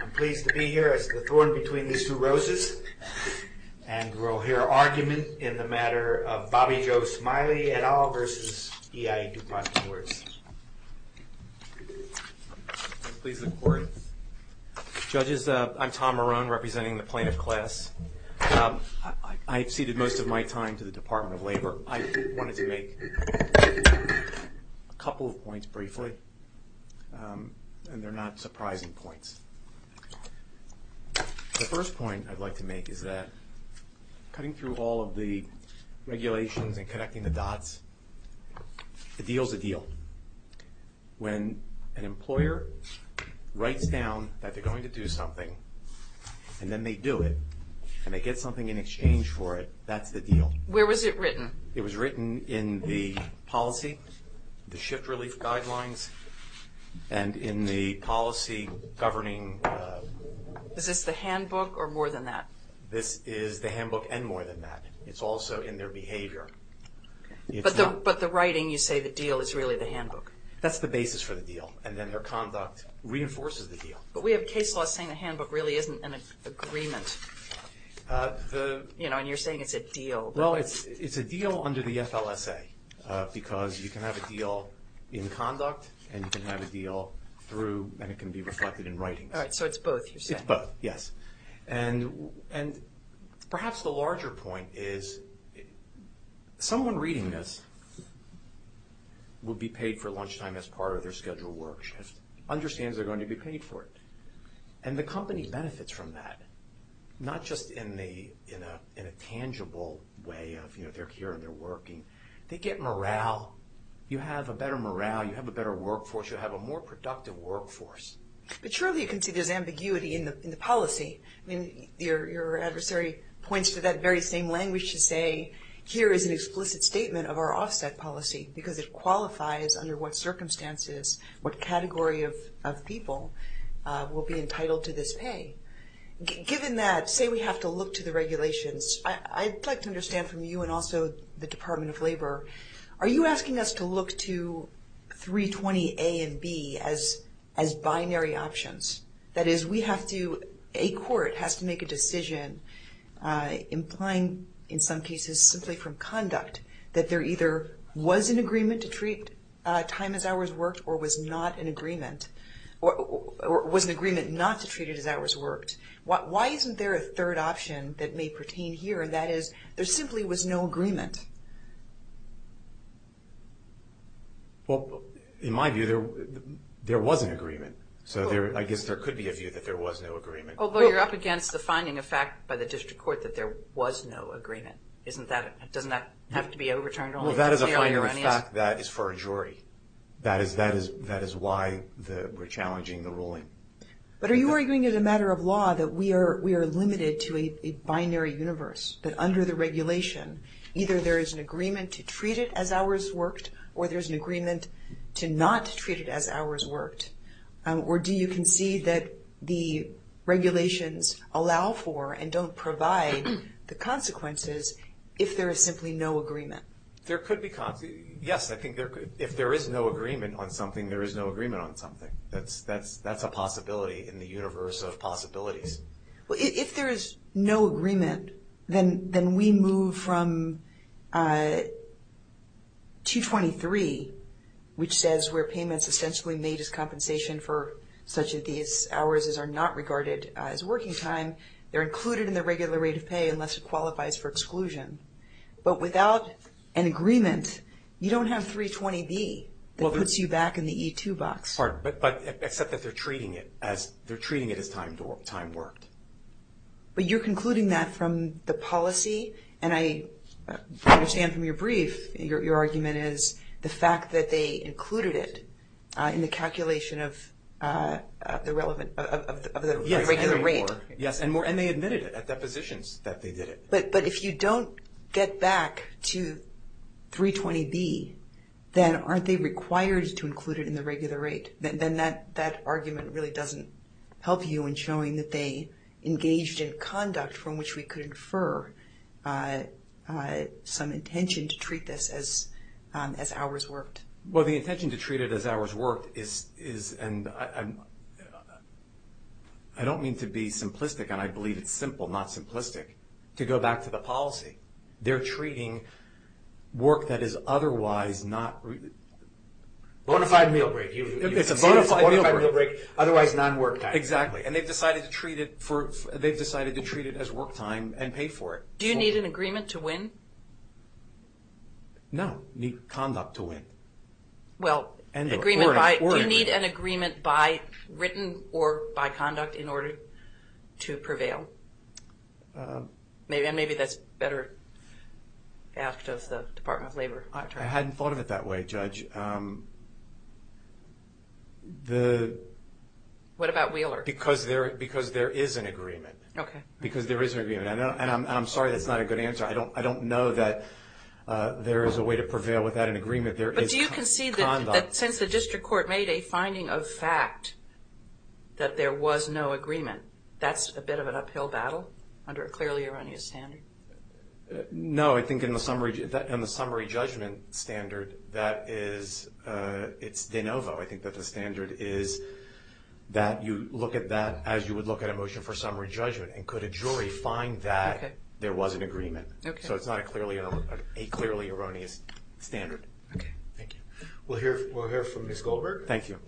I'm pleased to be here as the thorn between these two roses and we'll hear argument in the matter of Bobby Joe Smiley et al. v. EI Dupont De Nemours. Please look forward. Judges, I'm Tom Marone representing the plaintiff class. I've ceded most of my time to the Department of Labor. I wanted to make a couple of points briefly and they're not surprising points. The first point I'd like to make is that cutting through all of the regulations and connecting the dots, the deal's a deal. When an employer writes down that they're going to do something and then they do it and they get something in exchange for it, that's the deal. Where was it written? It was written in the policy, the shift relief guidelines, and in the policy governing... Is this the handbook or more than that? This is the handbook and more than that. It's also in their behavior. But the writing, you say the deal is really the handbook. That's the basis for the deal and then their conduct reinforces the deal. But we have case law saying the handbook really isn't an agreement and you're saying it's a deal. Well, it's a deal under the FLSA because you can have a deal in conduct and you can have a deal through and it can be reflected in writing. All right, so it's both you're saying. It's both, yes. And perhaps the larger point is someone reading this will be paid for lunchtime as part of their schedule work shift, understands they're going to be paid for it. And the company benefits from that, not just in a tangible way of they're here and they're working. They get morale. You have a better morale. You have a better workforce. You have a more productive workforce. But surely you can see there's ambiguity in the policy. Your adversary points to that very same language to say here is an explicit statement of our offset policy because it qualifies under what circumstances, what category of people will be entitled to this pay. Given that, say we have to look to the regulations, I'd like to understand from you and also the Department of Labor, are you asking us to look to 320A and B as binary options? That is, we have to, a court has to make a decision implying in some cases simply from conduct that there either was an agreement to treat time as hours worked or was not an agreement not to treat it as hours worked. Why isn't there a third option that may pertain here, and that is there simply was no agreement? Well, in my view, there was an agreement, so I guess there could be a view that there was no agreement. Although you're up against the finding of fact by the district court that there was no agreement. Isn't that, doesn't that have to be overturned only if it's fairly erroneous? Well, that is a finding of fact that is for a jury. That is why we're challenging the ruling. But are you arguing as a matter of law that we are limited to a binary universe, that under the regulation, either there is an agreement to treat it as hours worked or there's an agreement to not treat it as hours worked? Or do you concede that the regulations allow for and don't provide the consequences if there is simply no agreement? There could be, yes, I think there could. If there is no agreement on something, there is no agreement on something. That's a possibility in the universe of possibilities. If there is no agreement, then we move from 223, which says where payments essentially made as compensation for such as these hours are not regarded as working time, they're included in the regular rate of pay unless it qualifies for exclusion. But without an agreement, you don't have 320B that puts you back in the E2 box. But except that they're treating it as time worked. But you're concluding that from the policy, and I understand from your brief, your argument is the fact that they included it in the calculation of the regular rate. Yes, and they admitted it at depositions that they did it. But if you don't get back to 320B, then aren't they required to include it in the regular rate? Then that argument really doesn't help you in showing that they engaged in conduct from which we could infer some intention to treat this as hours worked. Well, the intention to treat it as hours worked is, and I don't mean to be simplistic, and I believe it's simple, not simplistic, to go back to the policy. They're treating work that is otherwise not- Bonafide meal break. It's a bonafide meal break, otherwise non-work time. Exactly. And they've decided to treat it as work time and pay for it. Do you need an agreement to win? No, need conduct to win. Well, do you need an agreement by written or by conduct in order to prevail? Maybe that's better asked of the Department of Labor. I hadn't thought of it that way, Judge. What about Wheeler? Because there is an agreement. Because there is an agreement, and I'm sorry that's not a good answer. I don't know that there is a way to prevail without an agreement. But do you concede that since the district court made a finding of fact that there was no agreement, that's a bit of an uphill battle under a clearly erroneous standard? No, I think in the summary judgment standard, that is, it's de novo. I think that the standard is that you look at that as you would look at a motion for summary judgment, and could a jury find that there was an agreement, so it's not a clearly erroneous standard. Okay. Thank you. We'll hear from Ms. Goldberg. Thank you.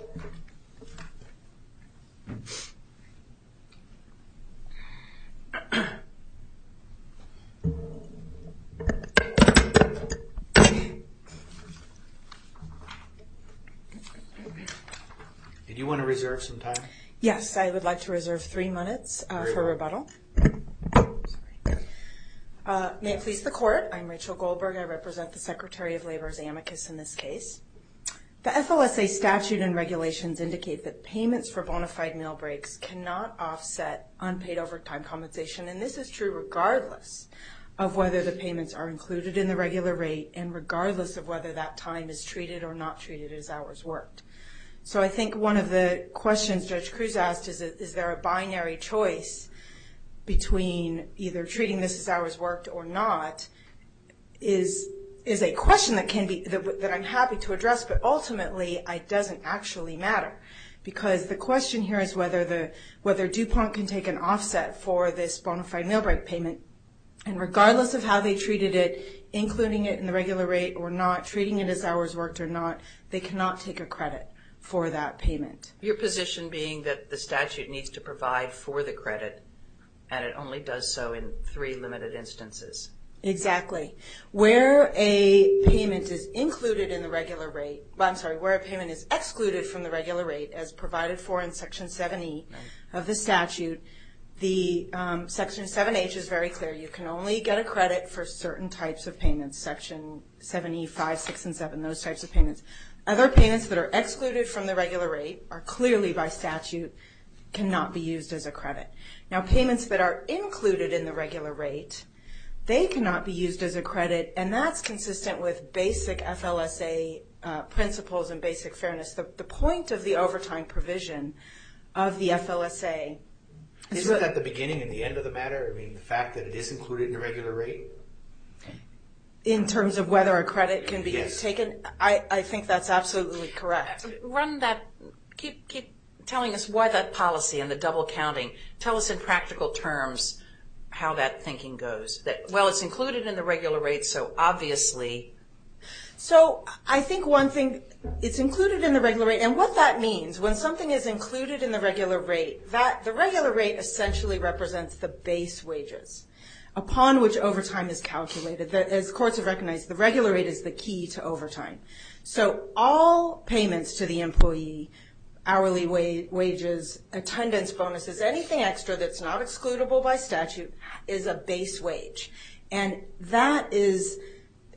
Did you want to reserve some time? Yes, I would like to reserve three minutes for rebuttal. Sorry. May it please the court, I'm Rachel Goldberg. I represent the Secretary of Labor's amicus in this case. The FLSA statute and regulations indicate that payments for bona fide meal breaks cannot offset unpaid overtime compensation, and this is true regardless of whether the payments are included in the regular rate, and regardless of whether that time is treated or not treated as hours worked. So I think one of the questions Judge Cruz asked is, is there a binary choice between either treating this as hours worked or not, is a question that I'm happy to address, but ultimately it doesn't actually matter, because the question here is whether DuPont can take an offset for this bona fide meal break payment, and regardless of how they treated it, including it in the regular rate or not, treating it as hours worked or not, they cannot take a credit for that payment. Your position being that the statute needs to provide for the credit, and it only does so in three limited instances. Exactly. Where a payment is included in the regular rate, I'm sorry, where a payment is excluded from the regular rate as provided for in Section 7E of the statute, the Section 7H is very clear. You can only get a credit for certain types of payments, Section 7E, 5, 6, and 7, those types of payments. Other payments that are excluded from the regular rate are clearly by statute cannot be used as a credit. Now payments that are included in the regular rate, they cannot be used as a credit, and that's consistent with basic FLSA principles and basic fairness. The point of the overtime provision of the FLSA is that... Isn't that the beginning and the end of the matter? I mean, the fact that it is included in the regular rate? In terms of whether a credit can be taken? I think that's absolutely correct. Run that, keep telling us why that policy and the double counting, tell us in practical terms how that thinking goes. Well, it's included in the regular rate, so obviously... So I think one thing, it's included in the regular rate, and what that means, when something is included in the regular rate, the regular rate essentially represents the base wages upon which overtime is calculated. As courts have recognized, the regular rate is the key to overtime. So all payments to the employee, hourly wages, attendance bonuses, anything extra that's not excludable by statute, is a base wage. And that is...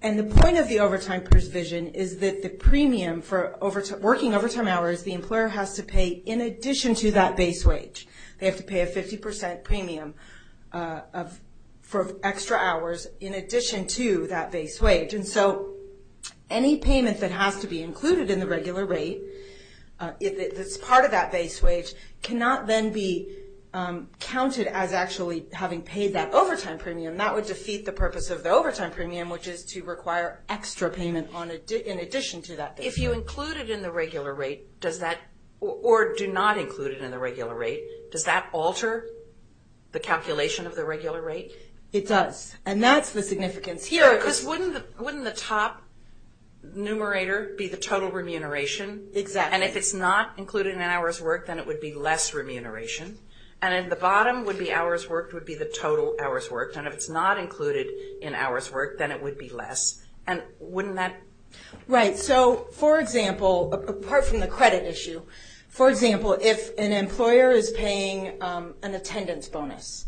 And the point of the overtime provision is that the premium for working overtime hours, the employer has to pay in addition to that base wage, they have to pay a 50% premium for extra hours in addition to that base wage. And so any payment that has to be included in the regular rate, that's part of that base wage, cannot then be counted as actually having paid that overtime premium. That would defeat the purpose of the overtime premium, which is to require extra payment in addition to that. If you include it in the regular rate, or do not include it in the regular rate, does that alter the calculation of the regular rate? It does. And that's the significance. Here... Because wouldn't the top numerator be the total remuneration? Exactly. And if it's not included in hours worked, then it would be less remuneration. And at the bottom, would be hours worked would be the total hours worked, and if it's not included in hours worked, then it would be less. And wouldn't that... Right. So for example, apart from the credit issue, for example, if an employer is paying an attendance bonus,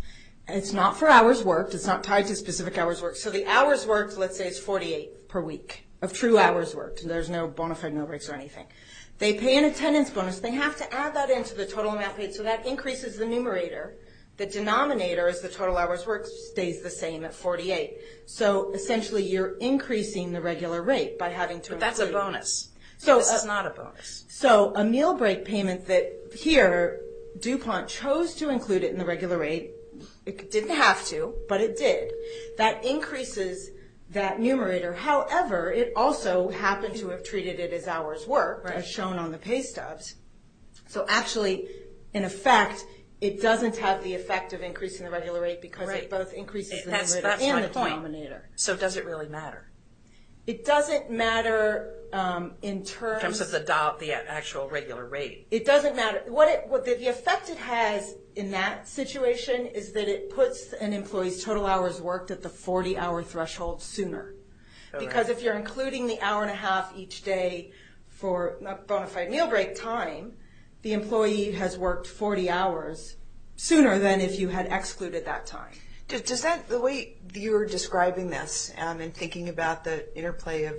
and it's not for hours worked, it's not tied to specific hours worked. So the hours worked, let's say it's 48 per week of true hours worked, and there's no bona fide no breaks or anything. They pay an attendance bonus, they have to add that into the total amount paid, so that increases the numerator. The denominator is the total hours worked stays the same at 48. So essentially you're increasing the regular rate by having to... That's a bonus. This is not a bonus. So a meal break payment that here, DuPont chose to include it in the regular rate. It didn't have to, but it did. That increases that numerator. However, it also happened to have treated it as hours worked, as shown on the pay stubs. So actually, in effect, it doesn't have the effect of increasing the regular rate because it both increases the numerator and the denominator. So does it really matter? It doesn't matter in terms of the actual regular rate. It doesn't matter. What the effect it has in that situation is that it puts an employee's total hours worked at the 40-hour threshold sooner. Because if you're including the hour and a half each day for a bona fide meal break time, the employee has worked 40 hours sooner than if you had excluded that time. The way you're describing this and thinking about the interplay of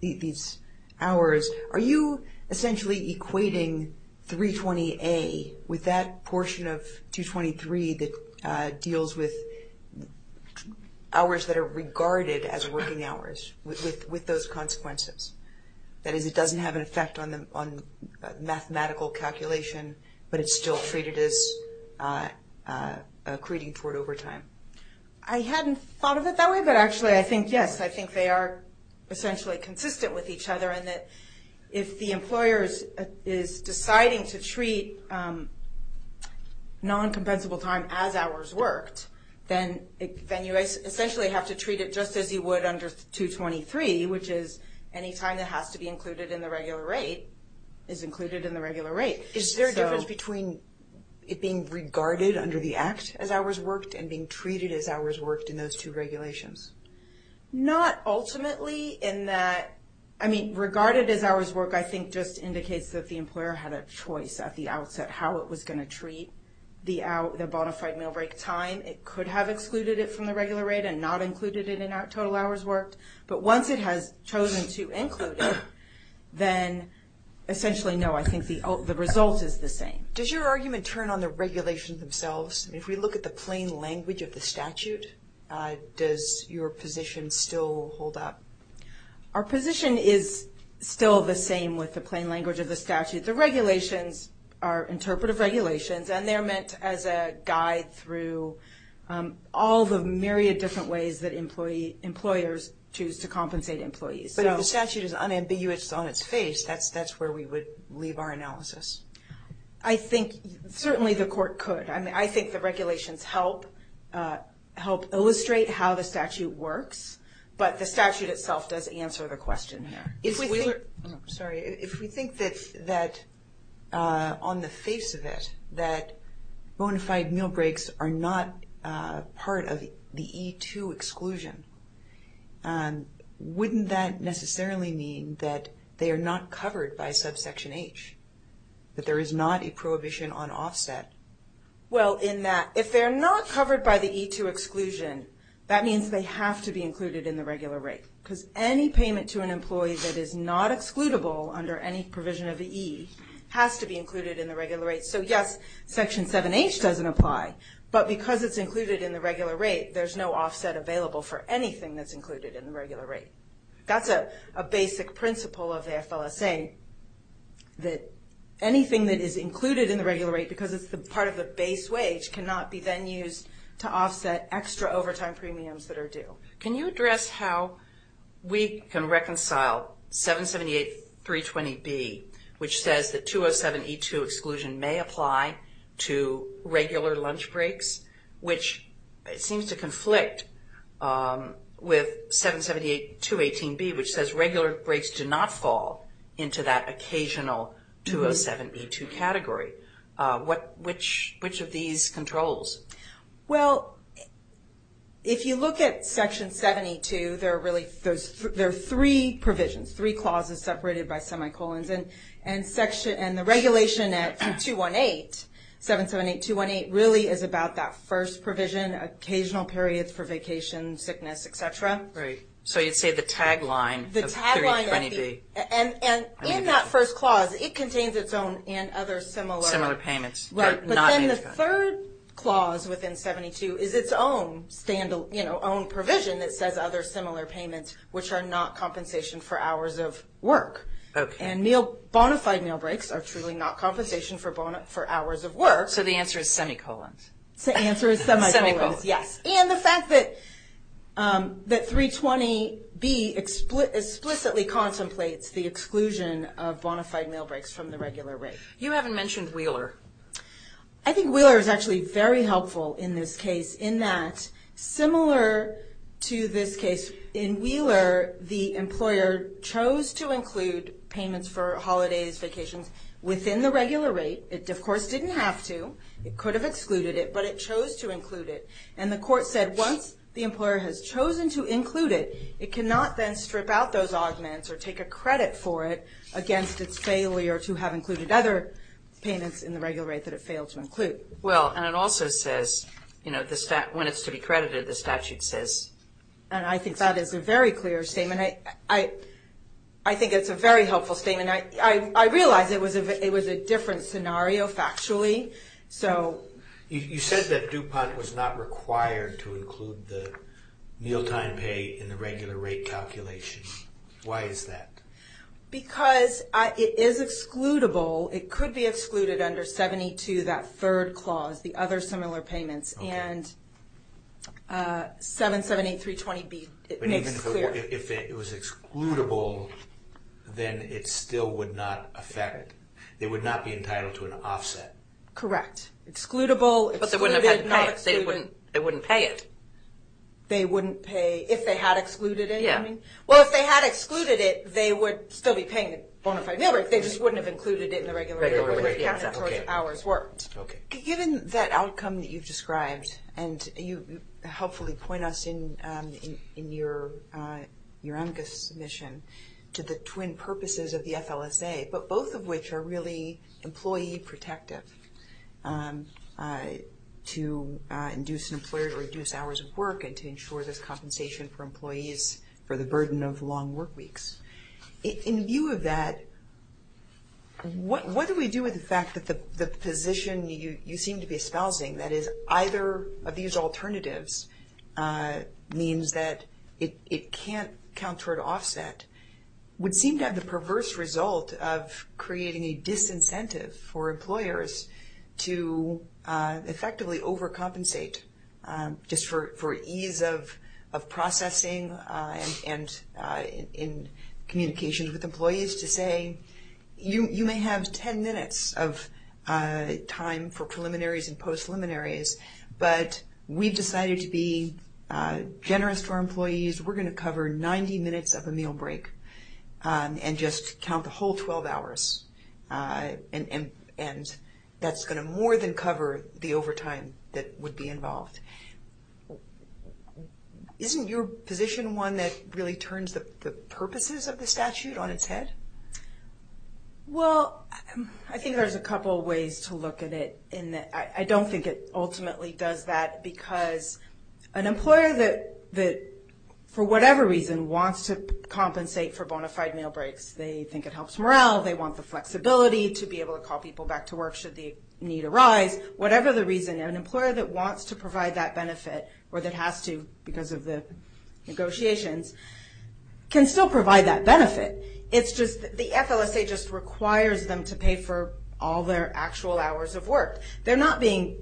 these hours, are you essentially equating 320A with that portion of 223 that deals with hours that are regarded as working hours with those consequences? That is, it doesn't have an effect on mathematical calculation, but it's still treated as creating short overtime. I hadn't thought of it that way, but actually I think, yes, I think they are essentially consistent with each other in that if the employer is deciding to treat non-compensable time as hours worked, then you essentially have to treat it just as you would under 223, which is any time that has to be included in the regular rate is included in the regular rate. Is there a difference between it being regarded under the act as hours worked and being treated as hours worked in those two regulations? Not ultimately in that, I mean, regarded as hours worked I think just indicates that the employer had a choice at the outset how it was going to treat the bona fide meal break time. It could have excluded it from the regular rate and not included it in total hours worked. But once it has chosen to include it, then essentially no, I think the result is the same. Does your argument turn on the regulations themselves? If we look at the plain language of the statute, does your position still hold up? Our position is still the same with the plain language of the statute. The regulations are interpretive regulations and they're meant as a guide through all the myriad different ways that employers choose to compensate employees. But if the statute is unambiguous on its face, that's where we would leave our analysis. I think certainly the court could. I think the regulations help illustrate how the statute works, but the statute itself does answer the question there. If we think that on the face of it that bona fide meal breaks are not part of the E-2 exclusion, wouldn't that necessarily mean that they are not covered by subsection H, that there is not a prohibition on offset? Well in that if they're not covered by the E-2 exclusion, that means they have to be is not excludable under any provision of the E, has to be included in the regular rate. So yes, section 7H doesn't apply, but because it's included in the regular rate, there's no offset available for anything that's included in the regular rate. That's a basic principle of the FLSA, that anything that is included in the regular rate because it's part of the base wage cannot be then used to offset extra overtime premiums that are due. Can you address how we can reconcile 778.320B, which says the 207 E-2 exclusion may apply to regular lunch breaks, which it seems to conflict with 778.218B, which says regular breaks do not fall into that occasional 207 E-2 category. Which of these controls? Well, if you look at section 72, there are really three provisions, three clauses separated by semicolons, and the regulation at 778.218 really is about that first provision, occasional periods for vacation, sickness, et cetera. So you'd say the tagline of 3.20B. And in that first clause, it contains its own and other similar. Similar payments. But then the third clause within 72 is its own provision that says other similar payments, which are not compensation for hours of work. And bonafide meal breaks are truly not compensation for hours of work. So the answer is semicolons. The answer is semicolons, yes. And the fact that 3.20B explicitly contemplates the exclusion of bonafide meal breaks from the regular rate. You haven't mentioned Wheeler. I think Wheeler is actually very helpful in this case in that, similar to this case in Wheeler, the employer chose to include payments for holidays, vacations within the regular rate. It, of course, didn't have to. It could have excluded it, but it chose to include it. And the court said once the employer has chosen to include it, it cannot then strip out those against its failure to have included other payments in the regular rate that it failed to include. Well, and it also says, you know, when it's to be credited, the statute says. And I think that is a very clear statement. I think it's a very helpful statement. I realize it was a different scenario, factually. So. You said that DuPont was not required to include the mealtime pay in the regular rate calculation. Why is that? Because it is excludable. It could be excluded under 72, that third clause, the other similar payments. And 778.320B, it makes it clear. But even if it was excludable, then it still would not affect, it would not be entitled to an offset. Correct. Excludable. But they wouldn't have had to pay it. They wouldn't pay it. They wouldn't pay, if they had excluded it, you mean? Well, if they had excluded it, they would still be paying the bona fide meal rate. They just wouldn't have included it in the regular rate calculation, so it's hours worked. Given that outcome that you've described, and you helpfully point us in your AMCA submission to the twin purposes of the FLSA, but both of which are really employee protective, to induce an employer to reduce hours of work and to ensure there's compensation for employees for the burden of long work weeks. In view of that, what do we do with the fact that the position you seem to be espousing, that is, either of these alternatives means that it can't count toward offset, would seem to have the perverse result of creating a disincentive for employers to effectively overcompensate, just for ease of processing and in communication with employees to say, you may have 10 minutes of time for preliminaries and post-preliminaries, but we've decided to be generous to our employees. We're going to cover 90 minutes of a meal break and just count the whole 12 hours, and that's going to more than cover the overtime that would be involved. Isn't your position one that really turns the purposes of the statute on its head? Well, I think there's a couple of ways to look at it. I don't think it ultimately does that because an employer that, for whatever reason, wants to compensate for bona fide meal breaks, they think it helps morale, they want the flexibility to be able to call people back to work should the need arise. Whatever the reason, an employer that wants to provide that benefit, or that has to because of the negotiations, can still provide that benefit. The FLSA just requires them to pay for all their actual hours of work. They're not being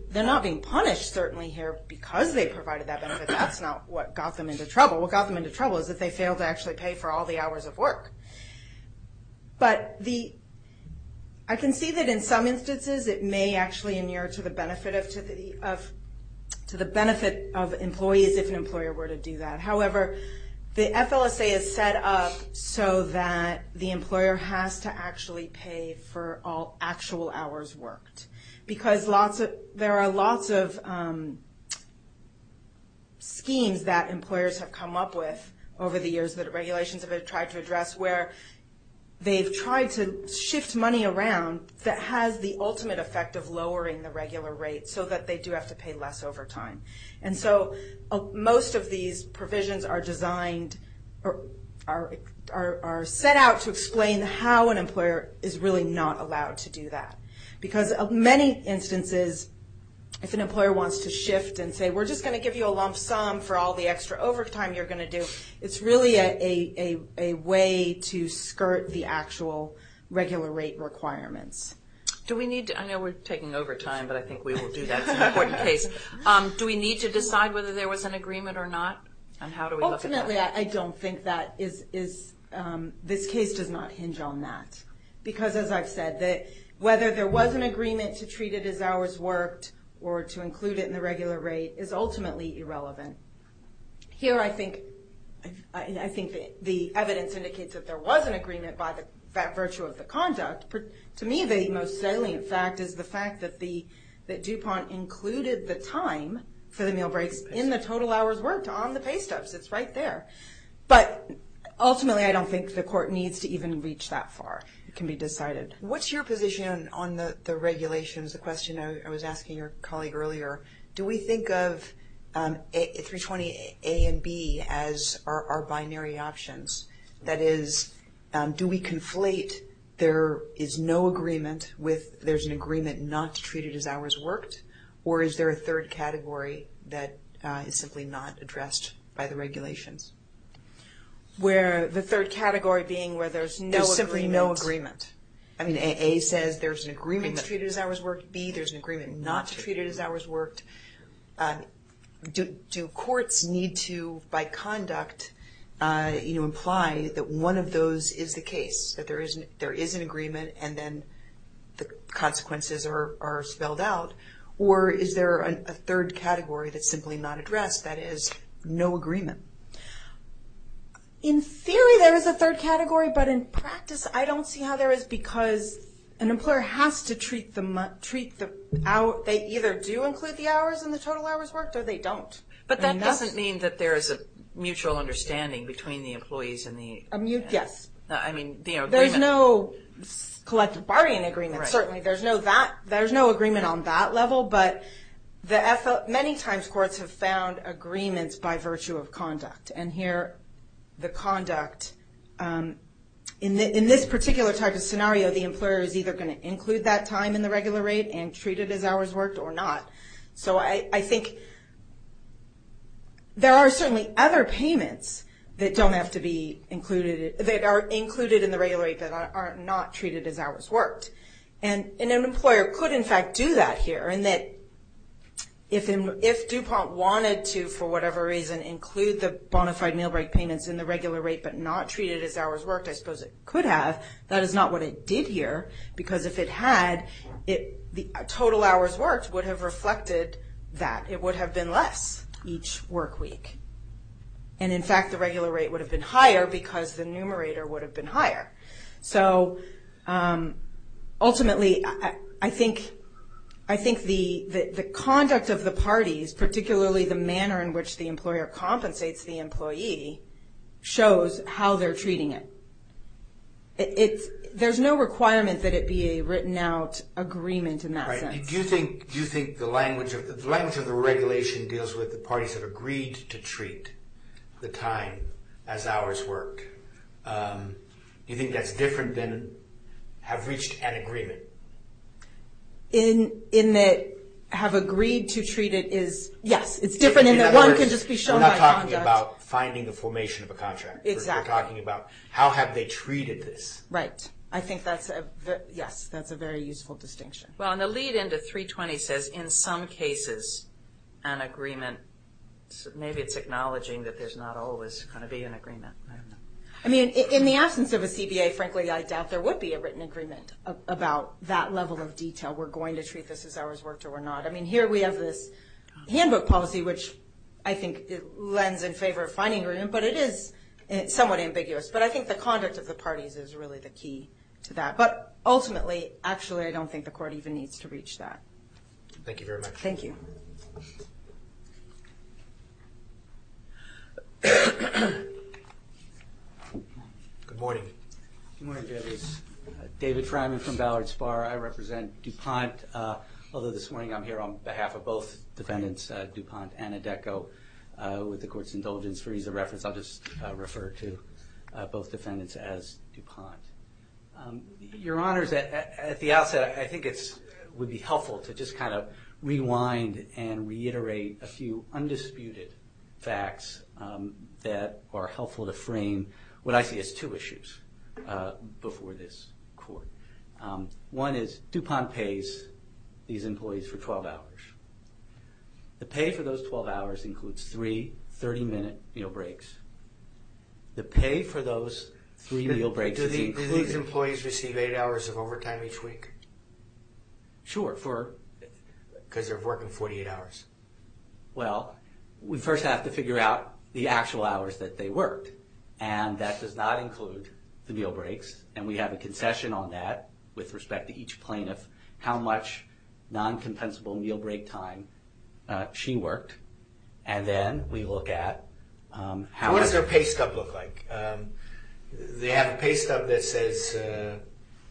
punished, certainly here, because they provided that benefit. That's not what got them into trouble. What got them into trouble is that they failed to actually pay for all the hours of work. I can see that in some instances it may actually inure to the benefit of employees if an employer were to do that. However, the FLSA is set up so that the employer has to actually pay for all actual hours worked because there are lots of schemes that employers have come up with over the years that regulations have tried to address where they've tried to shift money around that has the ultimate effect of lowering the regular rate so that they do have to pay less overtime. Most of these provisions are set out to explain how an employer is really not allowed to do that because of many instances, if an employer wants to shift and say, we're just going to give you a lump sum for all the extra overtime you're going to do. It's really a way to skirt the actual regular rate requirements. I know we're taking overtime, but I think we will do that. It's an important case. Do we need to decide whether there was an agreement or not, and how do we look at that? Ultimately, I don't think this case does not hinge on that because as I've said, whether there was an agreement to treat it as hours worked or to include it in the regular rate is ultimately irrelevant. Here I think the evidence indicates that there was an agreement by virtue of the conduct. To me, the most salient fact is the fact that DuPont included the time for the meal breaks in the total hours worked on the pay stubs. It's right there, but ultimately, I don't think the court needs to even reach that far. It can be decided. What's your position on the regulations, the question I was asking your colleague earlier? Do we think of 320A and 320B as our binary options? That is, do we conflate there is no agreement with there's an agreement not to treat it as hours worked, or is there a third category that is simply not addressed by the regulations? The third category being where there's no agreement. There's simply no agreement. I mean, A says there's an agreement to treat it as hours worked, B there's an agreement not to treat it as hours worked. Do courts need to, by conduct, imply that one of those is the case, that there is an agreement and then the consequences are spelled out? Or is there a third category that's simply not addressed that is no agreement? In theory, there is a third category, but in practice, I don't see how there is because an employer has to treat the, they either do include the hours in the total hours worked or they don't. But that doesn't mean that there is a mutual understanding between the employees and the... Yes. I mean, the agreement. There's no collective bargaining agreement, certainly. There's no agreement on that level, but many times courts have found agreements by virtue of conduct. And here, the conduct, in this particular type of scenario, the employer is either going to include that time in the regular rate and treat it as hours worked or not. So I think there are certainly other payments that don't have to be included, that are included in the regular rate that are not treated as hours worked. And an employer could, in fact, do that here, in that if DuPont wanted to, for whatever reason, include the bona fide meal break payments in the regular rate but not treat it as hours worked, I suppose it could have. That is not what it did here because if it had, the total hours worked would have reflected that. It would have been less each work week. And in fact, the regular rate would have been higher because the numerator would have been higher. So ultimately, I think the conduct of the parties, particularly the manner in which the employer compensates the employee, shows how they're treating it. There's no requirement that it be a written out agreement in that sense. Right. Do you think the language of the regulation deals with the parties have agreed to treat the time as hours worked? Do you think that's different than have reached an agreement? In that, have agreed to treat it is, yes, it's different in that one can just be shown by conduct. In other words, we're not talking about finding the formation of a contract. Exactly. We're talking about, how have they treated this? Right. I think that's a very useful distinction. Well, and the lead into 320 says, in some cases, an agreement, maybe it's acknowledging that there's not always going to be an agreement. I mean, in the absence of a CBA, frankly, I doubt there would be a written agreement about that level of detail. We're going to treat this as hours worked or we're not. I mean, here we have this handbook policy, which I think lends in favor of finding agreement, but it is somewhat ambiguous. But I think the conduct of the parties is really the key to that. But ultimately, actually, I don't think the court even needs to reach that. Thank you very much. Thank you. Good morning. Good morning, Judges. David Fryman from Ballard Spar. I represent DuPont. Although this morning, I'm here on behalf of both defendants, DuPont and Adeko, with the court's indulgence. For ease of reference, I'll just refer to both defendants as DuPont. Your Honors, at the outset, I think it would be helpful to just kind of rewind and reiterate a few undisputed facts that are helpful to frame what I see as two issues before this court. One is DuPont pays these employees for 12 hours. The pay for those 12 hours includes three 30-minute meal breaks. The pay for those three meal breaks is included. Do these employees receive eight hours of overtime each week? Sure. Because they're working 48 hours. Well, we first have to figure out the actual hours that they worked. And that does not include the meal breaks. And we have a concession on that with respect to each plaintiff, how much non-compensable meal break time she worked. And then we look at how much... What does their pay stub look like? They have a pay stub that says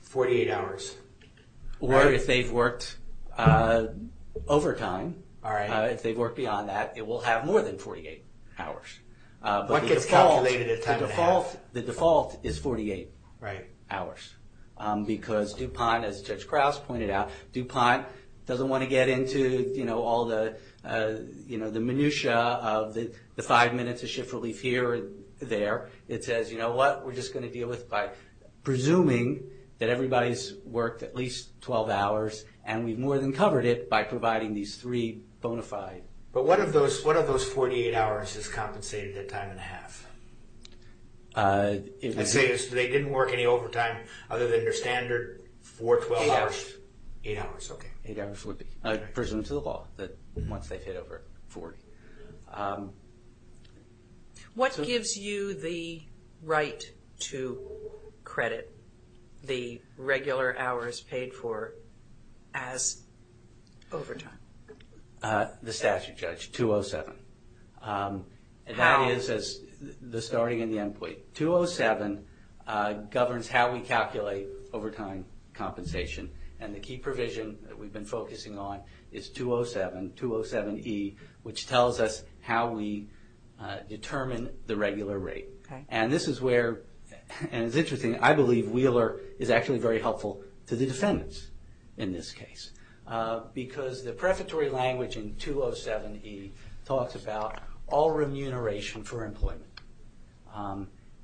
48 hours. Right. Or if they've worked overtime, if they've worked beyond that, it will have more than 48 hours. But the default... What gets calculated at time of half? The default is 48 hours because DuPont, as Judge Krause pointed out, DuPont doesn't want to get into all the minutia of the five minutes of shift relief here or there. It says, you know what? We're just going to deal with it by presuming that everybody's worked at least 12 hours and we've more than covered it by providing these three bona fide. But what of those 48 hours is compensated at time and a half? They didn't work any overtime other than their standard four, 12 hours? Eight hours. Eight hours, okay. Eight hours would be, presumed to the law, that once they've hit over 40. What gives you the right to credit the regular hours paid for as overtime? The statute, Judge, 207. How? That is the starting and the end point. 207 governs how we calculate overtime compensation and the key provision that we've been focusing on is 207, 207E, which tells us how we determine the regular rate. And this is where, and it's interesting, I believe Wheeler is actually very helpful to the defendants in this case. Because the prefatory language in 207E talks about all remuneration for employment.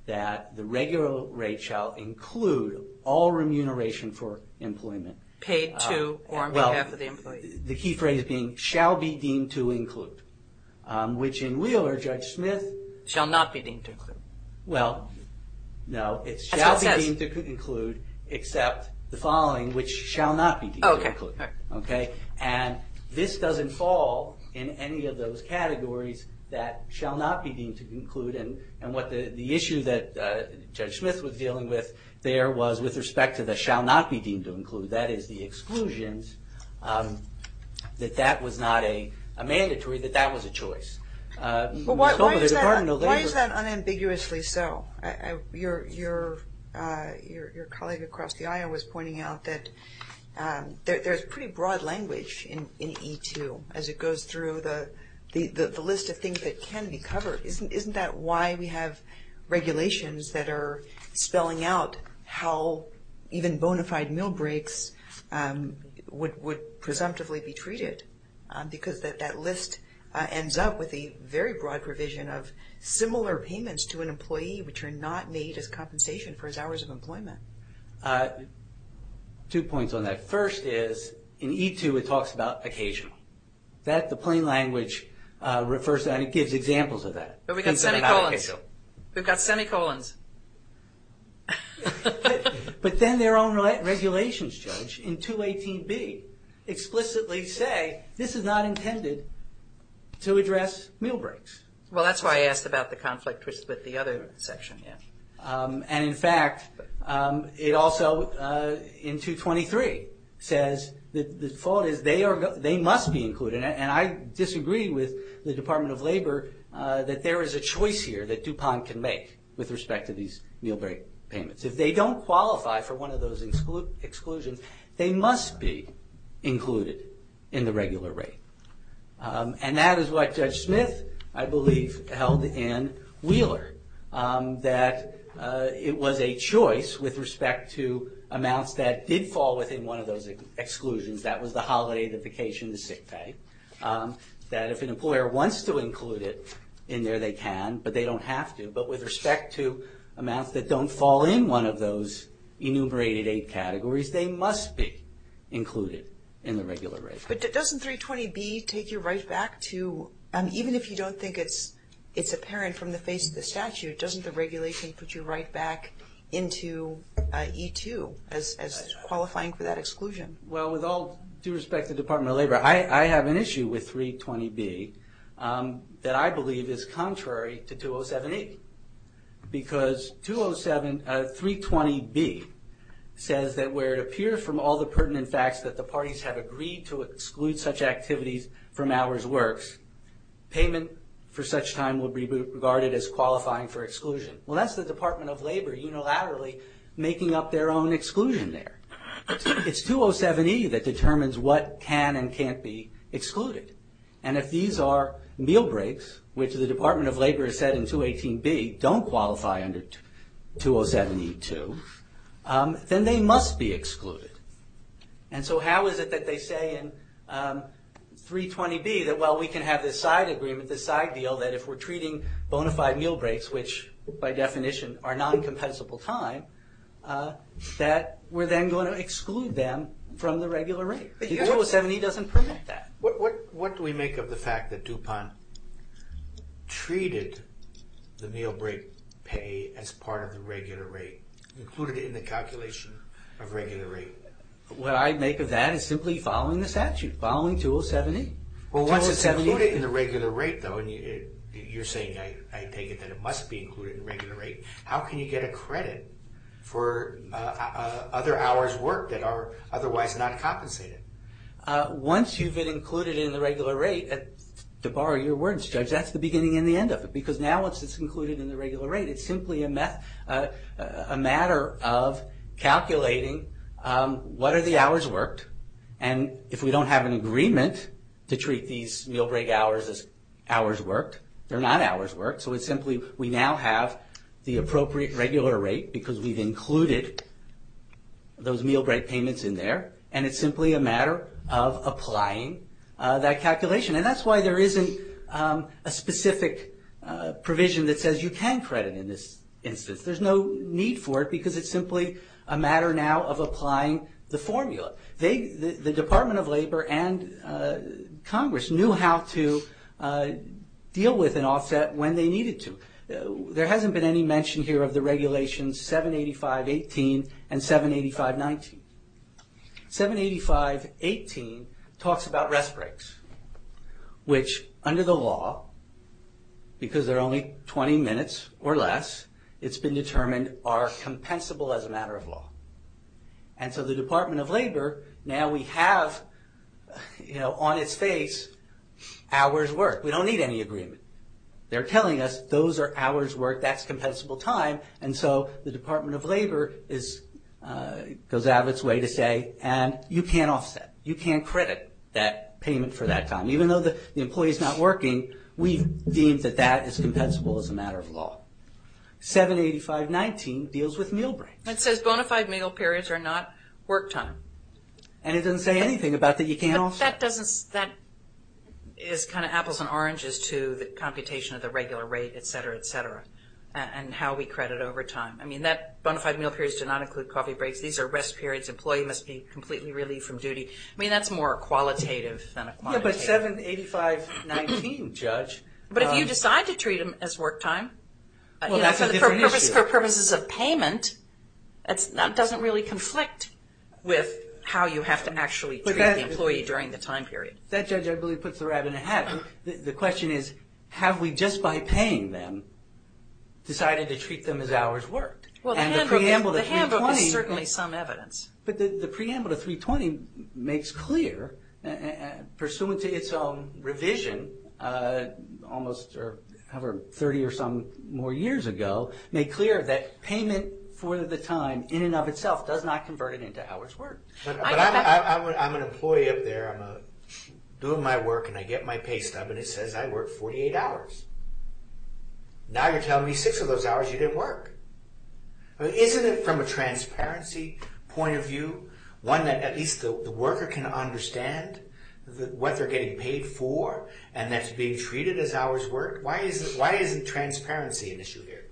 That the regular rate shall include all remuneration for employment. Paid to or on behalf of the employee. The key phrase being, shall be deemed to include. Which in Wheeler, Judge Smith. Shall not be deemed to include. Well, no. It shall be deemed to include except the following, which shall not be deemed to include. And this doesn't fall in any of those categories that shall not be deemed to include. And what the issue that Judge Smith was dealing with there was with respect to the shall not be deemed to include, that is the exclusions, that that was not a mandatory, that that was a choice. Well, why is that unambiguously so? Your colleague across the aisle was pointing out that there's pretty broad language in E2 as it goes through the list of things that can be covered. Isn't that why we have regulations that are spelling out how even bona fide meal breaks would presumptively be treated? Because that list ends up with a very broad provision of similar payments to an employee which are not made as compensation for his hours of employment. Two points on that. First is, in E2 it talks about occasional. The plain language refers to that and it gives examples of that. But we've got semicolons, we've got semicolons. But then their own regulations, Judge, in 218B explicitly say this is not intended to address meal breaks. Well, that's why I asked about the conflict with the other section, yeah. And in fact, it also, in 223, says that the default is they must be included. And I disagree with the Department of Labor that there is a choice here that DuPont can make with respect to these meal break payments. If they don't qualify for one of those exclusions, they must be included in the regular rate. And that is what Judge Smith, I believe, held in Wheeler. That it was a choice with respect to amounts that did fall within one of those exclusions. That was the holiday, the vacation, the sick pay. That if an employer wants to include it in there, they can, but they don't have to. But with respect to amounts that don't fall in one of those enumerated eight categories, they must be included in the regular rate. But doesn't 320B take you right back to, even if you don't think it's apparent from the face of the statute, doesn't the regulation put you right back into E2 as qualifying for that exclusion? Well, with all due respect to the Department of Labor, I have an issue with 320B that I believe is contrary to 207A. Because 320B says that where it appears from all the pertinent facts that the parties have agreed to exclude such activities from hours works, payment for such time will be regarded as qualifying for exclusion. Well, that's the Department of Labor unilaterally making up their own exclusion there. It's 207E that determines what can and can't be excluded. And if these are meal breaks, which the Department of Labor has said in 218B don't qualify under 207E2, then they must be excluded. And so how is it that they say in 320B that while we can have this side agreement, this side deal, that if we're treating bona fide meal breaks, which by definition are non-compensable time, that we're then going to exclude them from the regular rate? 207E doesn't permit that. What do we make of the fact that DuPont treated the meal break pay as part of the regular rate? What I'd make of that is simply following the statute, following 207E. Well, once it's included in the regular rate, though, and you're saying I take it that it must be included in the regular rate, how can you get a credit for other hours worked that are otherwise not compensated? Once you've been included in the regular rate, to borrow your words, Judge, that's the beginning and the end of it. Because now once it's included in the regular rate, it's simply a matter of calculating what are the hours worked, and if we don't have an agreement to treat these meal break hours as hours worked, they're not hours worked, so it's simply we now have the appropriate regular rate because we've included those meal break payments in there, and it's simply a matter of applying that calculation. That's why there isn't a specific provision that says you can credit in this instance. There's no need for it because it's simply a matter now of applying the formula. The Department of Labor and Congress knew how to deal with an offset when they needed to. There hasn't been any mention here of the regulations 785.18 and 785.19. 785.18 talks about rest breaks, which under the law, because they're only 20 minutes or less, it's been determined are compensable as a matter of law. The Department of Labor, now we have on its face hours worked. We don't need any agreement. They're telling us those are hours worked, that's compensable time, and so the Department of Labor goes out of its way to say, and you can't offset, you can't credit that payment for that time. Even though the employee's not working, we've deemed that that is compensable as a matter of law. 785.19 deals with meal breaks. It says bona fide meal periods are not work time. And it doesn't say anything about that you can't offset. That is kind of apples and oranges to the computation of the regular rate, etc., etc., and how we credit over time. I mean, that bona fide meal periods do not include coffee breaks. These are rest periods. Employee must be completely relieved from duty. I mean, that's more qualitative than a quantitative. Yeah, but 785.19, Judge. But if you decide to treat them as work time, for purposes of payment, that doesn't really conflict with how you have to actually treat the employee during the time period. That judge, I believe, puts the rat in the hat. The question is, have we, just by paying them, decided to treat them as hours worked? Well, the handbook is certainly some evidence. But the preamble to 320 makes clear, pursuant to its own revision, almost 30 or some more years ago, made clear that payment for the time, in and of itself, does not convert it into hours worked. But I'm an employee up there. I'm doing my work, and I get my pay stub, and it says I worked 48 hours. Now you're telling me six of those hours you didn't work. Isn't it, from a transparency point of view, one that at least the worker can understand what they're getting paid for, and that's being treated as hours worked? Why isn't transparency an issue here?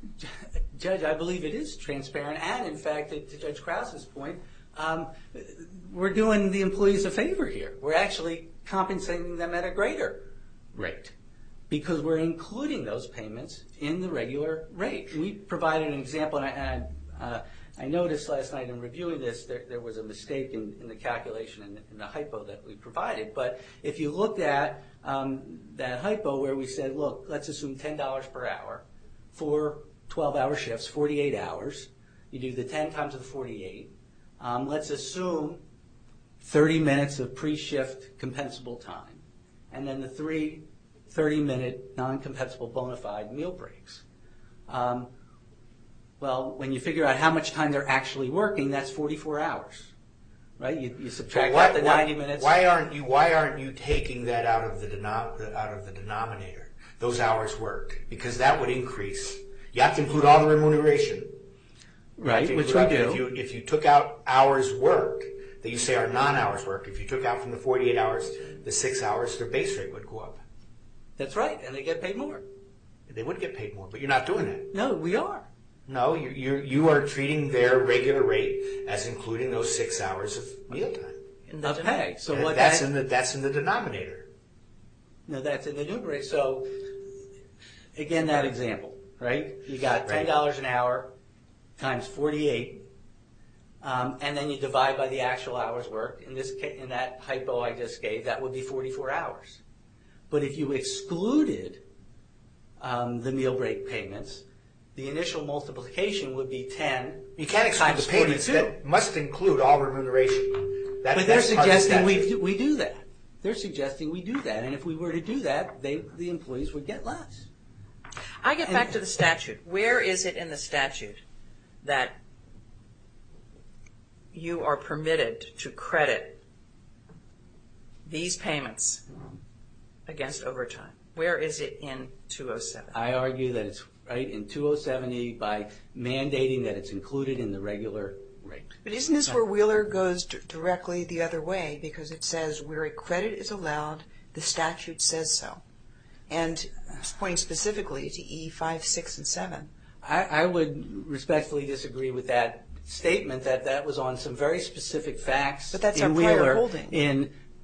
Judge, I believe it is transparent, and in fact, to Judge Krause's point, we're doing the employees a favor here. We're actually compensating them at a greater rate, because we're including those payments in the regular rate. We provided an example, and I noticed last night in reviewing this, there was a mistake in the calculation in the hypo that we provided. If you look at that hypo where we said, look, let's assume $10 per hour, four 12-hour shifts, 48 hours. You do the 10 times the 48. Let's assume 30 minutes of pre-shift compensable time, and then the three 30-minute non-compensable bona fide meal breaks. When you figure out how much time they're actually working, that's 44 hours. You subtract out the 90 minutes. Why aren't you taking that out of the denominator, those hours worked? Because that would increase. You have to include all the remuneration. Right, which we do. If you took out hours worked, that you say are non-hours worked, if you took out from the 48 hours, the six hours, their base rate would go up. That's right, and they get paid more. They would get paid more, but you're not doing that. No, we are. No, you are treating their regular rate as including those six hours of meal time. That's right. That's in the denominator. No, that's in the numerator. Again, that example, you got $10 an hour times 48, and then you divide by the actual hours worked. In that hypo I just gave, that would be 44 hours. But if you excluded the meal break payments, the initial multiplication would be 10 times 42. You can't exclude the payments. That must include all remuneration. But they're suggesting we do that. They're suggesting we do that, and if we were to do that, the employees would get less. I get back to the statute. Where is it in the statute that you are permitted to credit these payments against overtime? Where is it in 207? I argue that it's right in 207E by mandating that it's included in the regular rate. But isn't this where Wheeler goes directly the other way, because it says where a credit is allowed, the statute says so, and it's pointing specifically to E5, 6, and 7. I would respectfully disagree with that statement, that that was on some very specific facts in Wheeler,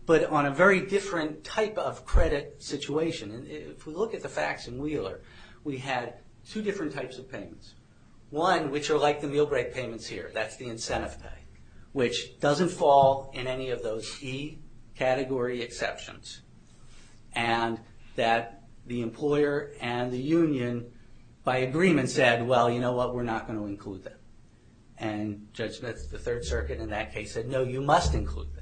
but on a very different type of credit situation. If we look at the facts in Wheeler, we had two different types of payments, one which are like the meal break payments here, that's the incentive pay, which doesn't fall in any of those E category exceptions, and that the employer and the union by agreement said, well, you know what, we're not going to include that. And Judge Smith of the Third Circuit in that case said, no, you must include that.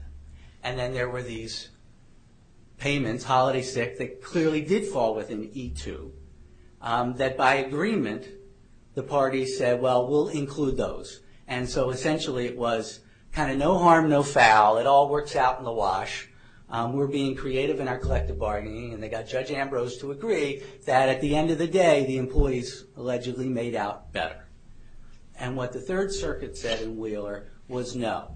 And then there were these payments, holiday sick, that clearly did fall within E2, that by agreement, the party said, well, we'll include those. And so essentially it was kind of no harm, no foul, it all works out in the wash. We're being creative in our collective bargaining, and they got Judge Ambrose to agree that at the end of the day, the employees allegedly made out better. And what the Third Circuit said in Wheeler was, no,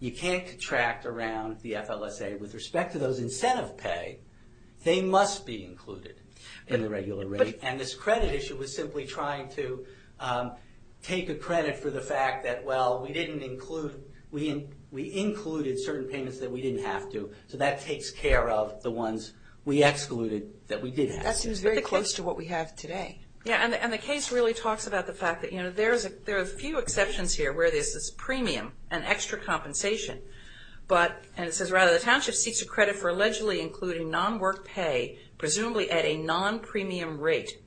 you can't contract around the FLSA with respect to those incentive pay, they must be included in the regular rate. And this credit issue was simply trying to take a credit for the fact that, well, we included certain payments that we didn't have to, so that takes care of the ones we excluded that we did have to. That seems very close to what we have today. Yeah, and the case really talks about the fact that, you know, there are a few exceptions here where there's this premium and extra compensation, but, and it says rather, the township seeks a credit for allegedly including non-work pay, presumably at a non-premium rate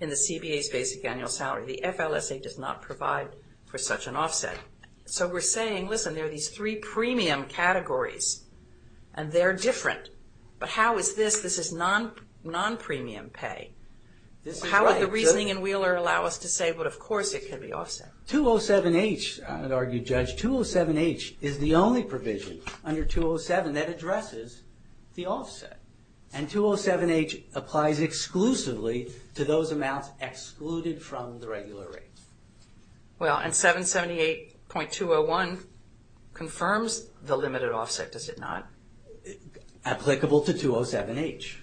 in the CBA's basic annual salary. The FLSA does not provide for such an offset. So we're saying, listen, there are these three premium categories, and they're different, but how is this, this is non-premium pay. How would the reasoning in Wheeler allow us to say, well, of course it could be offset? 207H, an argued judge, 207H is the only provision under 207 that addresses the offset. And 207H applies exclusively to those amounts excluded from the regular rate. Well, and 778.201 confirms the limited offset, does it not? Applicable to 207H,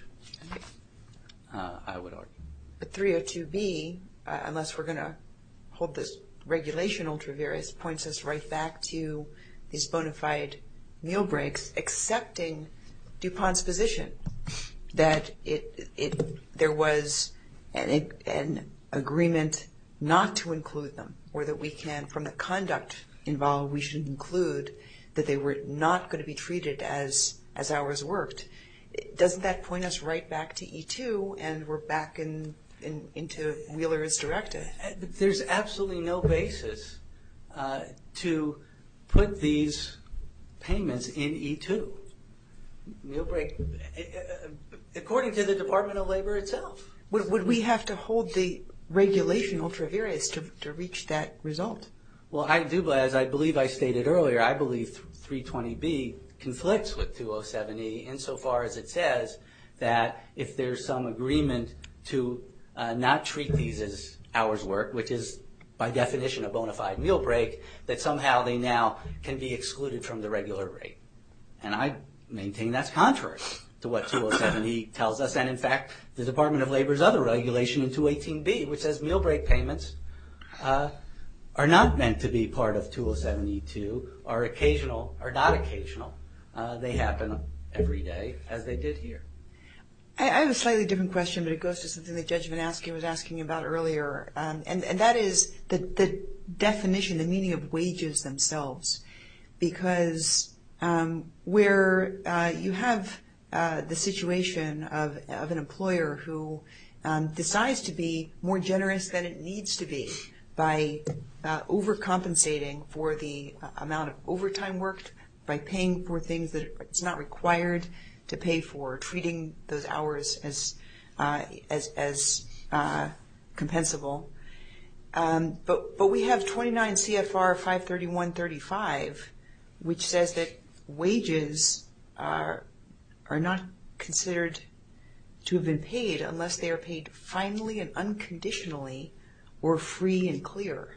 I would argue. But 302B, unless we're going to hold this regulation ultra-various, points us right back to these bona fide meal breaks, accepting DuPont's position that there was an agreement not to include them, or that we can, from the conduct involved, we should include, that they were not going to be treated as ours worked. Doesn't that point us right back to E2, and we're back into Wheeler's directive? There's absolutely no basis to put these payments in E2, according to the Department of Labor itself. Would we have to hold the regulation ultra-various to reach that result? Well, I do, as I believe I stated earlier, I believe 320B conflicts with 207E, insofar as it says that if there's some agreement to not treat these as ours work, which is by definition a bona fide meal break, that somehow they now can be excluded from the regular rate. And I maintain that's contrary to what 207E tells us, and in fact, the Department of Labor's other regulation in 218B, which says meal break payments are not meant to be part of 207E2, are occasional, are not occasional. They happen every day, as they did here. I have a slightly different question, but it goes to something the judge was asking about earlier, and that is the definition, the meaning of wages themselves, because where you have the situation of an employer who decides to be more generous than it needs to be by overcompensating for the amount of overtime worked, by paying for things that it's not required to pay for, treating those hours as compensable, but we have 29CFR531.35, which says that wages are not considered to have been paid unless they are paid finely and unconditionally, or free and clear.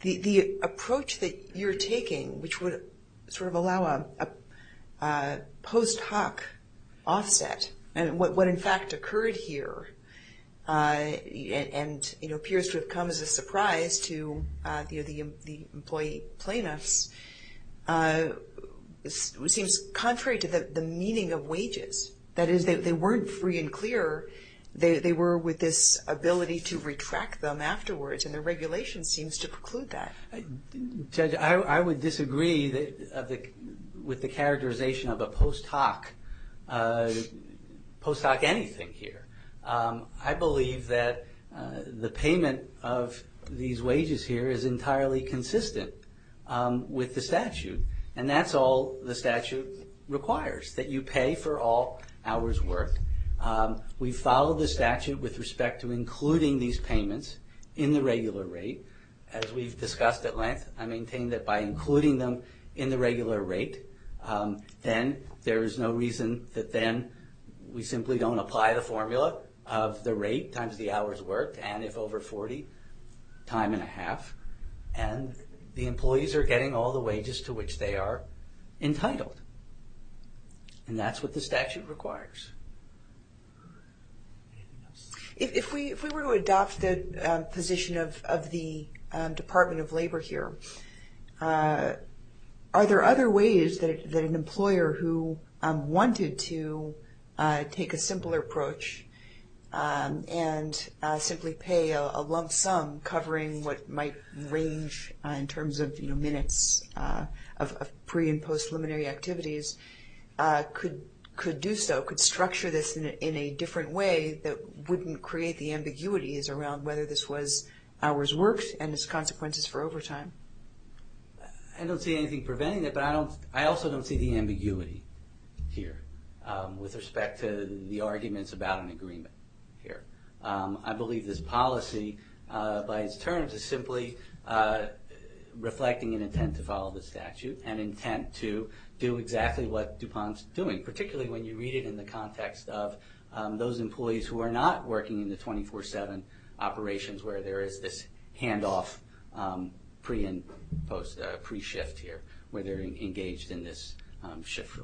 The approach that you're taking, which would sort of allow a post hoc offset, and what in fact occurred here, and it appears to have come as a surprise to the employee plaintiffs, that is they weren't free and clear, they were with this ability to retract them afterwards, and the regulation seems to preclude that. Judge, I would disagree with the characterization of a post hoc, post hoc anything here. I believe that the payment of these wages here is entirely consistent with the statute, and that's all the statute requires, that you pay for all hours worked. We follow the statute with respect to including these payments in the regular rate, as we've discussed at length, I maintain that by including them in the regular rate, then there is no reason that then we simply don't apply the formula of the rate times the hours worked, and if over 40, time and a half, and the employees are getting all the wages to which they are entitled, and that's what the statute requires. If we were to adopt the position of the Department of Labor here, are there other ways that an employee who take a simpler approach, and simply pay a lump sum covering what might range in terms of minutes of pre and post preliminary activities, could do so, could structure this in a different way that wouldn't create the ambiguities around whether this was hours worked, and its consequences for overtime? I don't see anything preventing it, but I also don't see the ambiguity here, with respect to the arguments about an agreement here. I believe this policy, by its terms, is simply reflecting an intent to follow the statute, an intent to do exactly what DuPont's doing, particularly when you read it in the context of those employees who are not working in the 24-7 operations, where there is this handoff pre and post, pre-shift here, where they're engaged in this shift.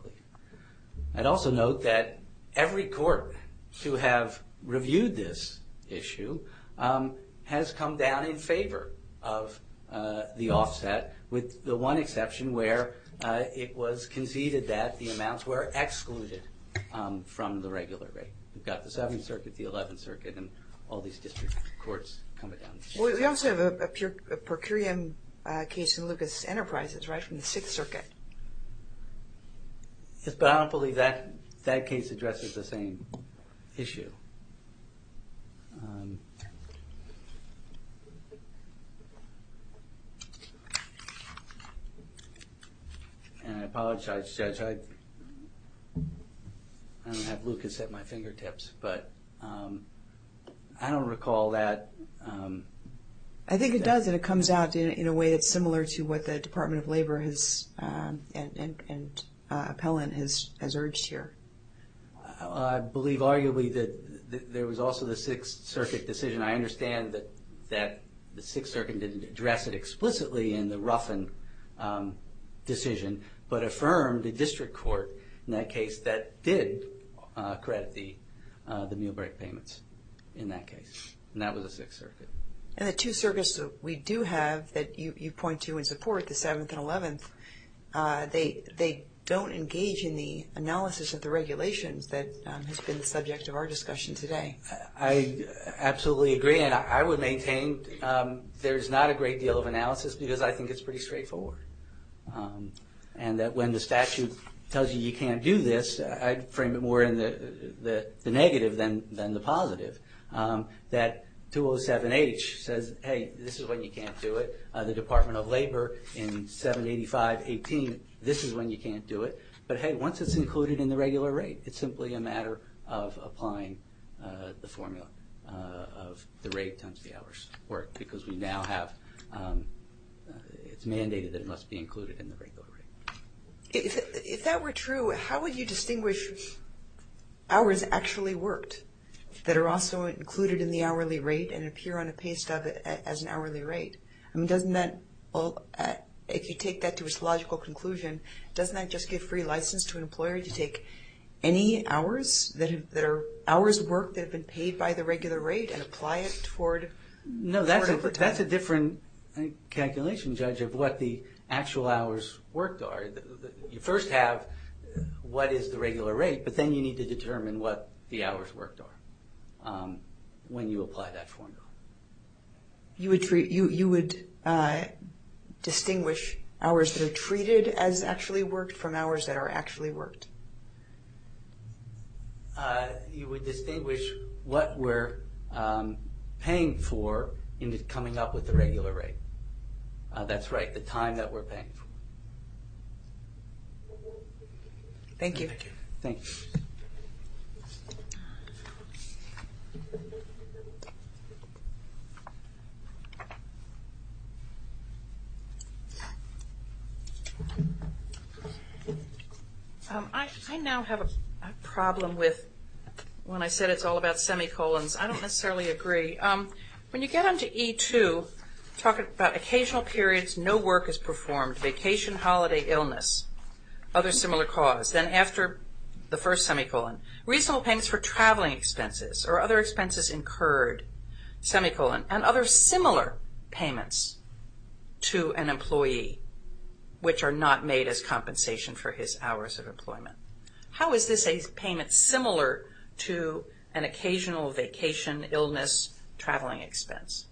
I'd also note that every court to have reviewed this issue has come down in favor of the offset, with the one exception where it was conceded that the amounts were excluded from the regular rate. We've got the 7th Circuit, the 11th Circuit, and all these district courts coming down We also have a per curiam case in Lucas Enterprises, right, from the 6th Circuit. Yes, but I don't believe that case addresses the same issue. And I apologize, Judge, I don't have Lucas at my fingertips, but I don't recall that case. I think it does, and it comes out in a way that's similar to what the Department of Labor has, and Appellant, has urged here. I believe arguably that there was also the 6th Circuit decision. I understand that the 6th Circuit didn't address it explicitly in the Ruffin decision, but affirmed a district court in that case that did credit the meal break payments in that case. And that was the 6th Circuit. And the two circuits that we do have that you point to in support, the 7th and 11th, they don't engage in the analysis of the regulations that has been the subject of our discussion today. I absolutely agree, and I would maintain there's not a great deal of analysis because I think it's pretty straightforward. And that when the statute tells you you can't do this, I'd frame it more in the negative than the positive, that 207-H says, hey, this is when you can't do it. The Department of Labor in 785-18, this is when you can't do it. But hey, once it's included in the regular rate, it's simply a matter of applying the formula of the rate times the hours worked, because we now have, it's mandated that it must be included in the regular rate. If that were true, how would you distinguish hours actually worked that are also included in the hourly rate and appear on a pay stub as an hourly rate? I mean, doesn't that, if you take that to its logical conclusion, doesn't that just give free license to an employer to take any hours that are hours worked that have been paid by the regular rate and apply it toward overtime? That's a different calculation, Judge, of what the actual hours worked are. You first have what is the regular rate, but then you need to determine what the hours worked are when you apply that formula. You would distinguish hours that are treated as actually worked from hours that are actually worked? You would distinguish what we're paying for in coming up with the regular rate. That's right, the time that we're paying for. Thank you. Thank you. I now have a problem with, when I said it's all about semicolons, I don't necessarily agree. When you get onto E2, talking about occasional periods, no work is performed, vacation, holiday, illness, other similar cause. Then after the first semicolon, reasonable payments for traveling expenses or other expenses incurred, semicolon, and other similar payments to an employee which are not made as compensation for his hours of employment. How is this a payment similar to an occasional vacation, illness, traveling expense?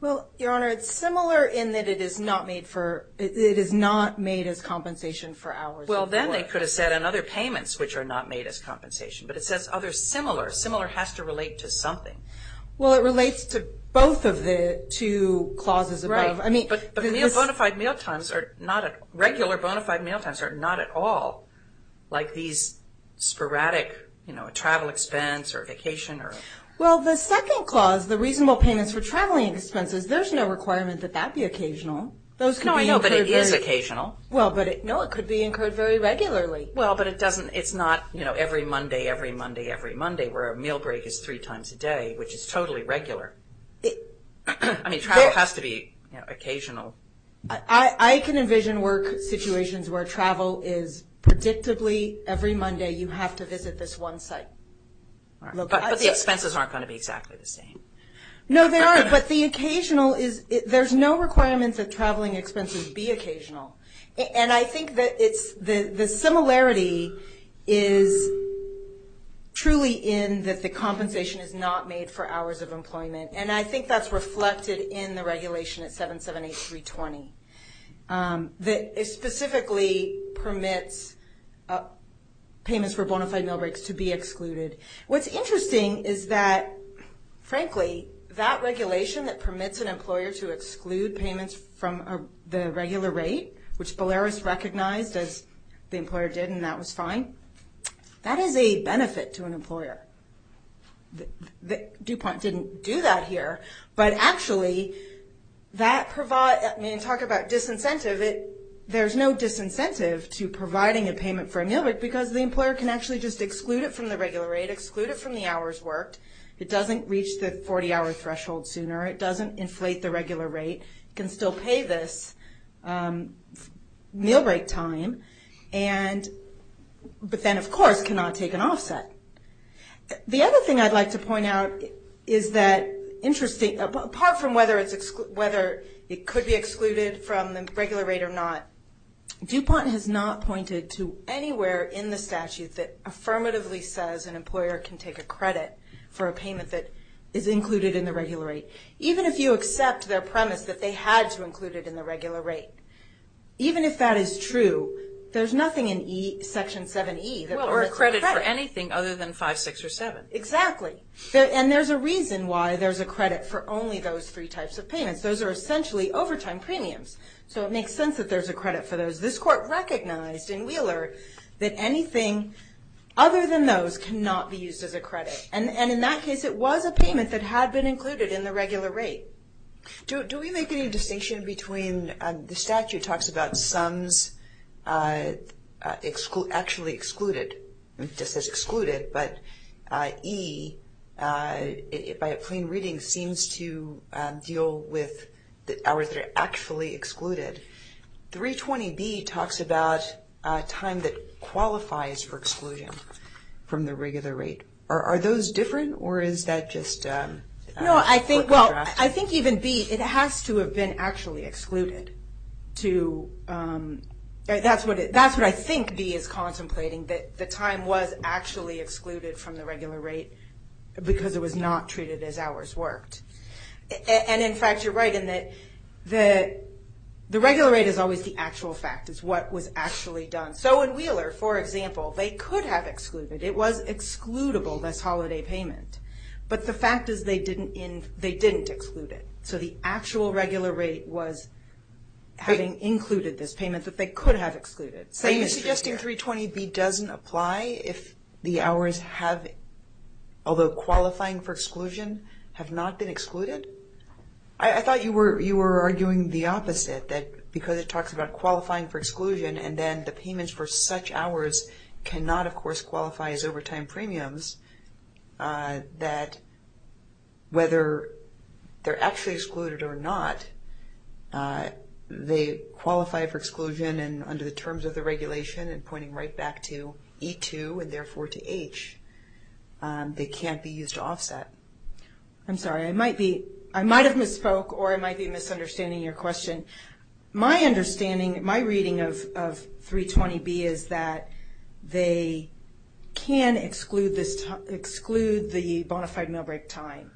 Well, Your Honor, it's similar in that it is not made for, it is not made as compensation for hours of work. Well, then they could have said other payments which are not made as compensation, but it says other similar. Similar has to relate to something. Well, it relates to both of the two clauses above. Right, but regular bona fide meal times are not at all like these sporadic travel expense or vacation. Well, the second clause, the reasonable payments for traveling expenses, there's no requirement that that be occasional. No, I know, but it is occasional. Well, but no, it could be incurred very regularly. Well, but it doesn't, it's not every Monday, every Monday, every Monday where a meal break is three times a day, which is totally regular. I mean, travel has to be occasional. I can envision work situations where travel is predictably every Monday you have to visit this one site. But the expenses aren't going to be exactly the same. No, they aren't, but the occasional is, there's no requirement that traveling expenses be occasional. And I think that the similarity is truly in that the compensation is not made for hours of employment. And I think that's reflected in the regulation at 778-320 that specifically permits payments for bona fide meal breaks to be excluded. What's interesting is that, frankly, that regulation that permits an employer to exclude payments from the regular rate, which Boleros recognized as the employer did, and that was fine, that is a benefit to an employer. DuPont didn't do that here, but actually that provides, I mean, talk about disincentive, there's no disincentive to providing a payment for a meal break because the employer can actually just exclude it from the regular rate, exclude it from the hours worked. It doesn't reach the 40 hour threshold sooner. It doesn't inflate the regular rate. It can still pay this meal break time, but then, of course, cannot take an offset. The other thing I'd like to point out is that, interesting, apart from whether it could be excluded from the regular rate or not, DuPont has not pointed to anywhere in the statute that affirmatively says an employer can take a credit for a payment that is included in the regular rate, even if you accept their premise that they had to include it in the regular rate. Even if that is true, there's nothing in Section 7E that permits a credit. Well, or a credit for anything other than 5, 6, or 7. Exactly. And there's a reason why there's a credit for only those three types of payments. Those are essentially overtime premiums. So it makes sense that there's a credit for those. And in that case, it was a payment that had been included in the regular rate. Do we make any distinction between the statute talks about sums actually excluded, just as excluded, but E, by a plain reading, seems to deal with the hours that are actually excluded. 320B talks about time that qualifies for exclusion from the regular rate. Are those different, or is that just for contrast? No, I think even B, it has to have been actually excluded. That's what I think B is contemplating, that the time was actually excluded from the regular rate because it was not treated as hours worked. And in fact, you're right in that the regular rate is always the actual fact. It's what was actually done. So in Wheeler, for example, they could have excluded. It was excludable, this holiday payment. But the fact is they didn't exclude it. So the actual regular rate was having included this payment that they could have excluded. So you're suggesting 320B doesn't apply if the hours have, although qualifying for exclusion, have not been excluded? I thought you were arguing the opposite, that because it talks about qualifying for exclusion and then the payments for such hours cannot, of course, qualify as overtime premiums, that whether they're actually excluded or not, they qualify for exclusion and under the terms of the regulation and pointing right back to E2 and therefore to H, they can't be used to offset. I'm sorry, I might have misspoke or I might be misunderstanding your question. My understanding, my reading of 320B is that they can exclude the bonafide mail break time.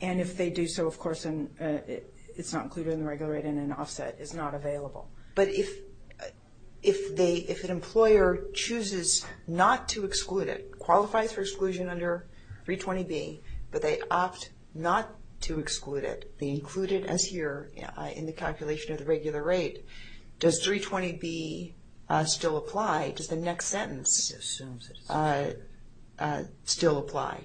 And if they do so, of course, it's not included in the regular rate and an offset is not available. But if an employer chooses not to exclude it, qualifies for exclusion under 320B, but they opt not to exclude it, they include it as here in the calculation of the regular rate, does 320B still apply, does the next sentence still apply,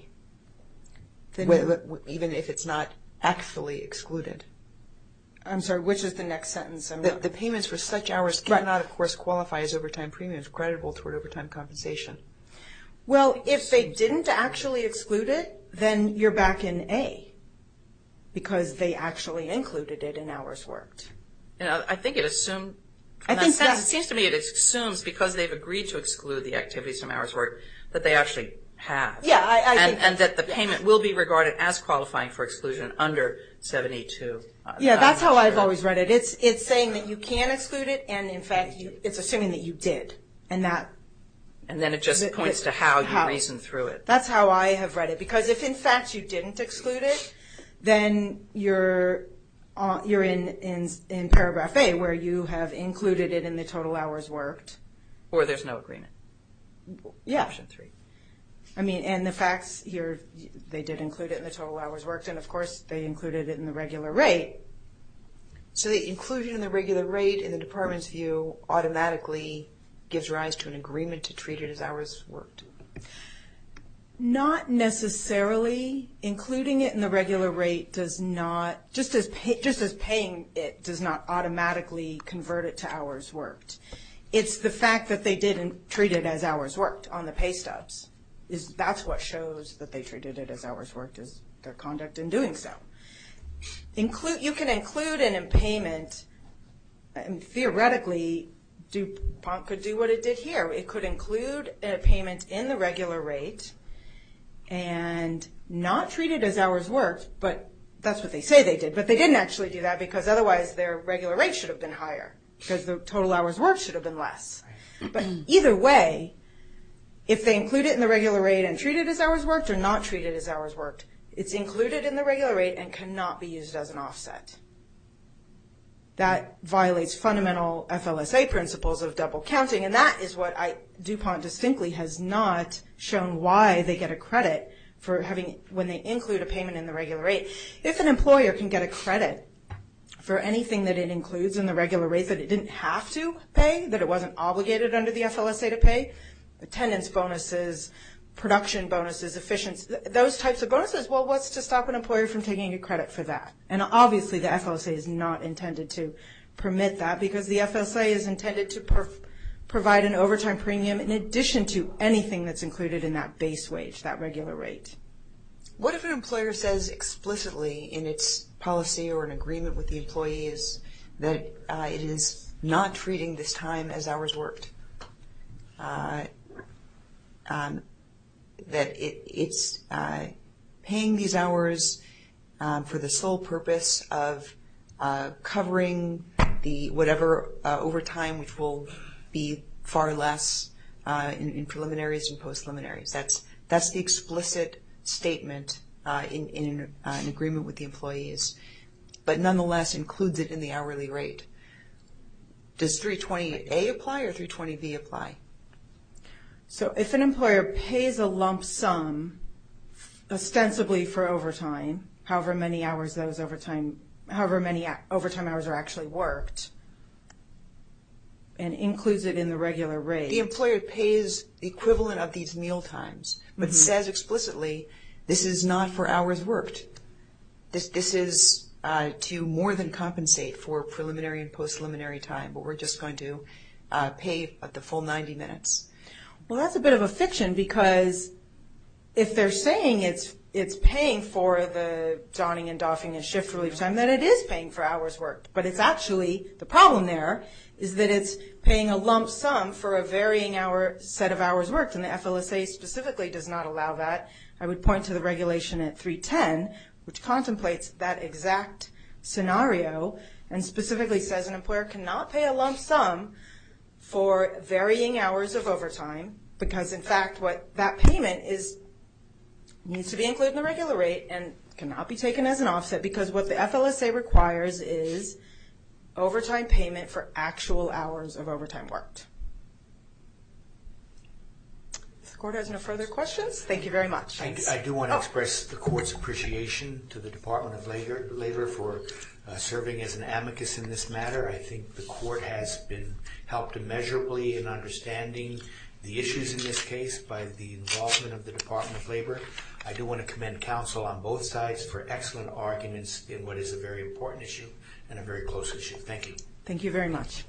even if it's not actually excluded? I'm sorry, which is the next sentence? The payments for such hours cannot, of course, qualify as overtime premiums, creditable toward overtime compensation. Well, if they didn't actually exclude it, then you're back in A, because they actually included it in hours worked. I think it assumed, in that sense, it seems to me it assumes because they've agreed to exclude the activities from hours worked, that they actually have. And that the payment will be regarded as qualifying for exclusion under 72. Yeah, that's how I've always read it. It's saying that you can exclude it, and in fact, it's assuming that you did. And then it just points to how you reasoned through it. That's how I have read it. Because if, in fact, you didn't exclude it, then you're in Paragraph A, where you have included it in the total hours worked. Or there's no agreement. Yeah. Option three. I mean, and the facts here, they did include it in the total hours worked, and of course, they included it in the regular rate. Okay. So the inclusion in the regular rate, in the department's view, automatically gives rise to an agreement to treat it as hours worked. Not necessarily. Including it in the regular rate does not, just as paying it does not automatically convert it to hours worked. It's the fact that they did treat it as hours worked on the pay stubs. That's what shows that they treated it as hours worked, is their conduct in doing so. You can include an impayment, and theoretically, DUPONT could do what it did here. It could include a payment in the regular rate, and not treat it as hours worked, but that's what they say they did. But they didn't actually do that, because otherwise, their regular rate should have been higher. Because the total hours worked should have been less. But either way, if they include it in the regular rate and treat it as hours worked or not treat it as hours worked, it's included in the regular rate and cannot be used as an offset. That violates fundamental FLSA principles of double counting, and that is what DUPONT distinctly has not shown why they get a credit when they include a payment in the regular rate. If an employer can get a credit for anything that it includes in the regular rate that it didn't have to pay, that it wasn't obligated under the FLSA to pay, attendance bonuses, production bonuses, efficiency, those types of bonuses, well, what's to stop an employer from taking a credit for that? And obviously, the FLSA is not intended to permit that, because the FLSA is intended to provide an overtime premium in addition to anything that's included in that base wage, that regular rate. What if an employer says explicitly in its policy or in agreement with the employees that it is not treating this time as hours worked, that it's paying these hours for the sole purpose of covering the whatever overtime, which will be far less in preliminaries and post-preliminaries. That's the explicit statement in agreement with the employees, but nonetheless includes it in the hourly rate. Does 320A apply or 320B apply? So if an employer pays a lump sum, ostensibly for overtime, however many overtime hours are actually worked, and includes it in the regular rate. The employer pays the equivalent of these meal times, but says explicitly, this is not for hours worked. This is to more than compensate for preliminary and post-preliminary time, but we're just going to pay the full 90 minutes. Well, that's a bit of a fiction, because if they're saying it's paying for the donning and doffing and shift relief time, then it is paying for hours worked. But it's actually, the problem there is that it's paying a lump sum for a varying set of hours worked, and the FLSA specifically does not allow that. I would point to the regulation at 310, which contemplates that exact scenario, and specifically says an employer cannot pay a lump sum for varying hours of overtime, because in fact what that payment is, needs to be included in the regular rate and cannot be taken as an offset, because what the FLSA requires is overtime payment for actual hours of overtime worked. If the court has no further questions, thank you very much. I do want to express the court's appreciation to the Department of Labor for serving as an amicus in this matter. I think the court has been helped immeasurably in understanding the issues in this case by the involvement of the Department of Labor. I do want to commend counsel on both sides for excellent arguments in what is a very important issue and a very close issue. Thank you. Thank you very much.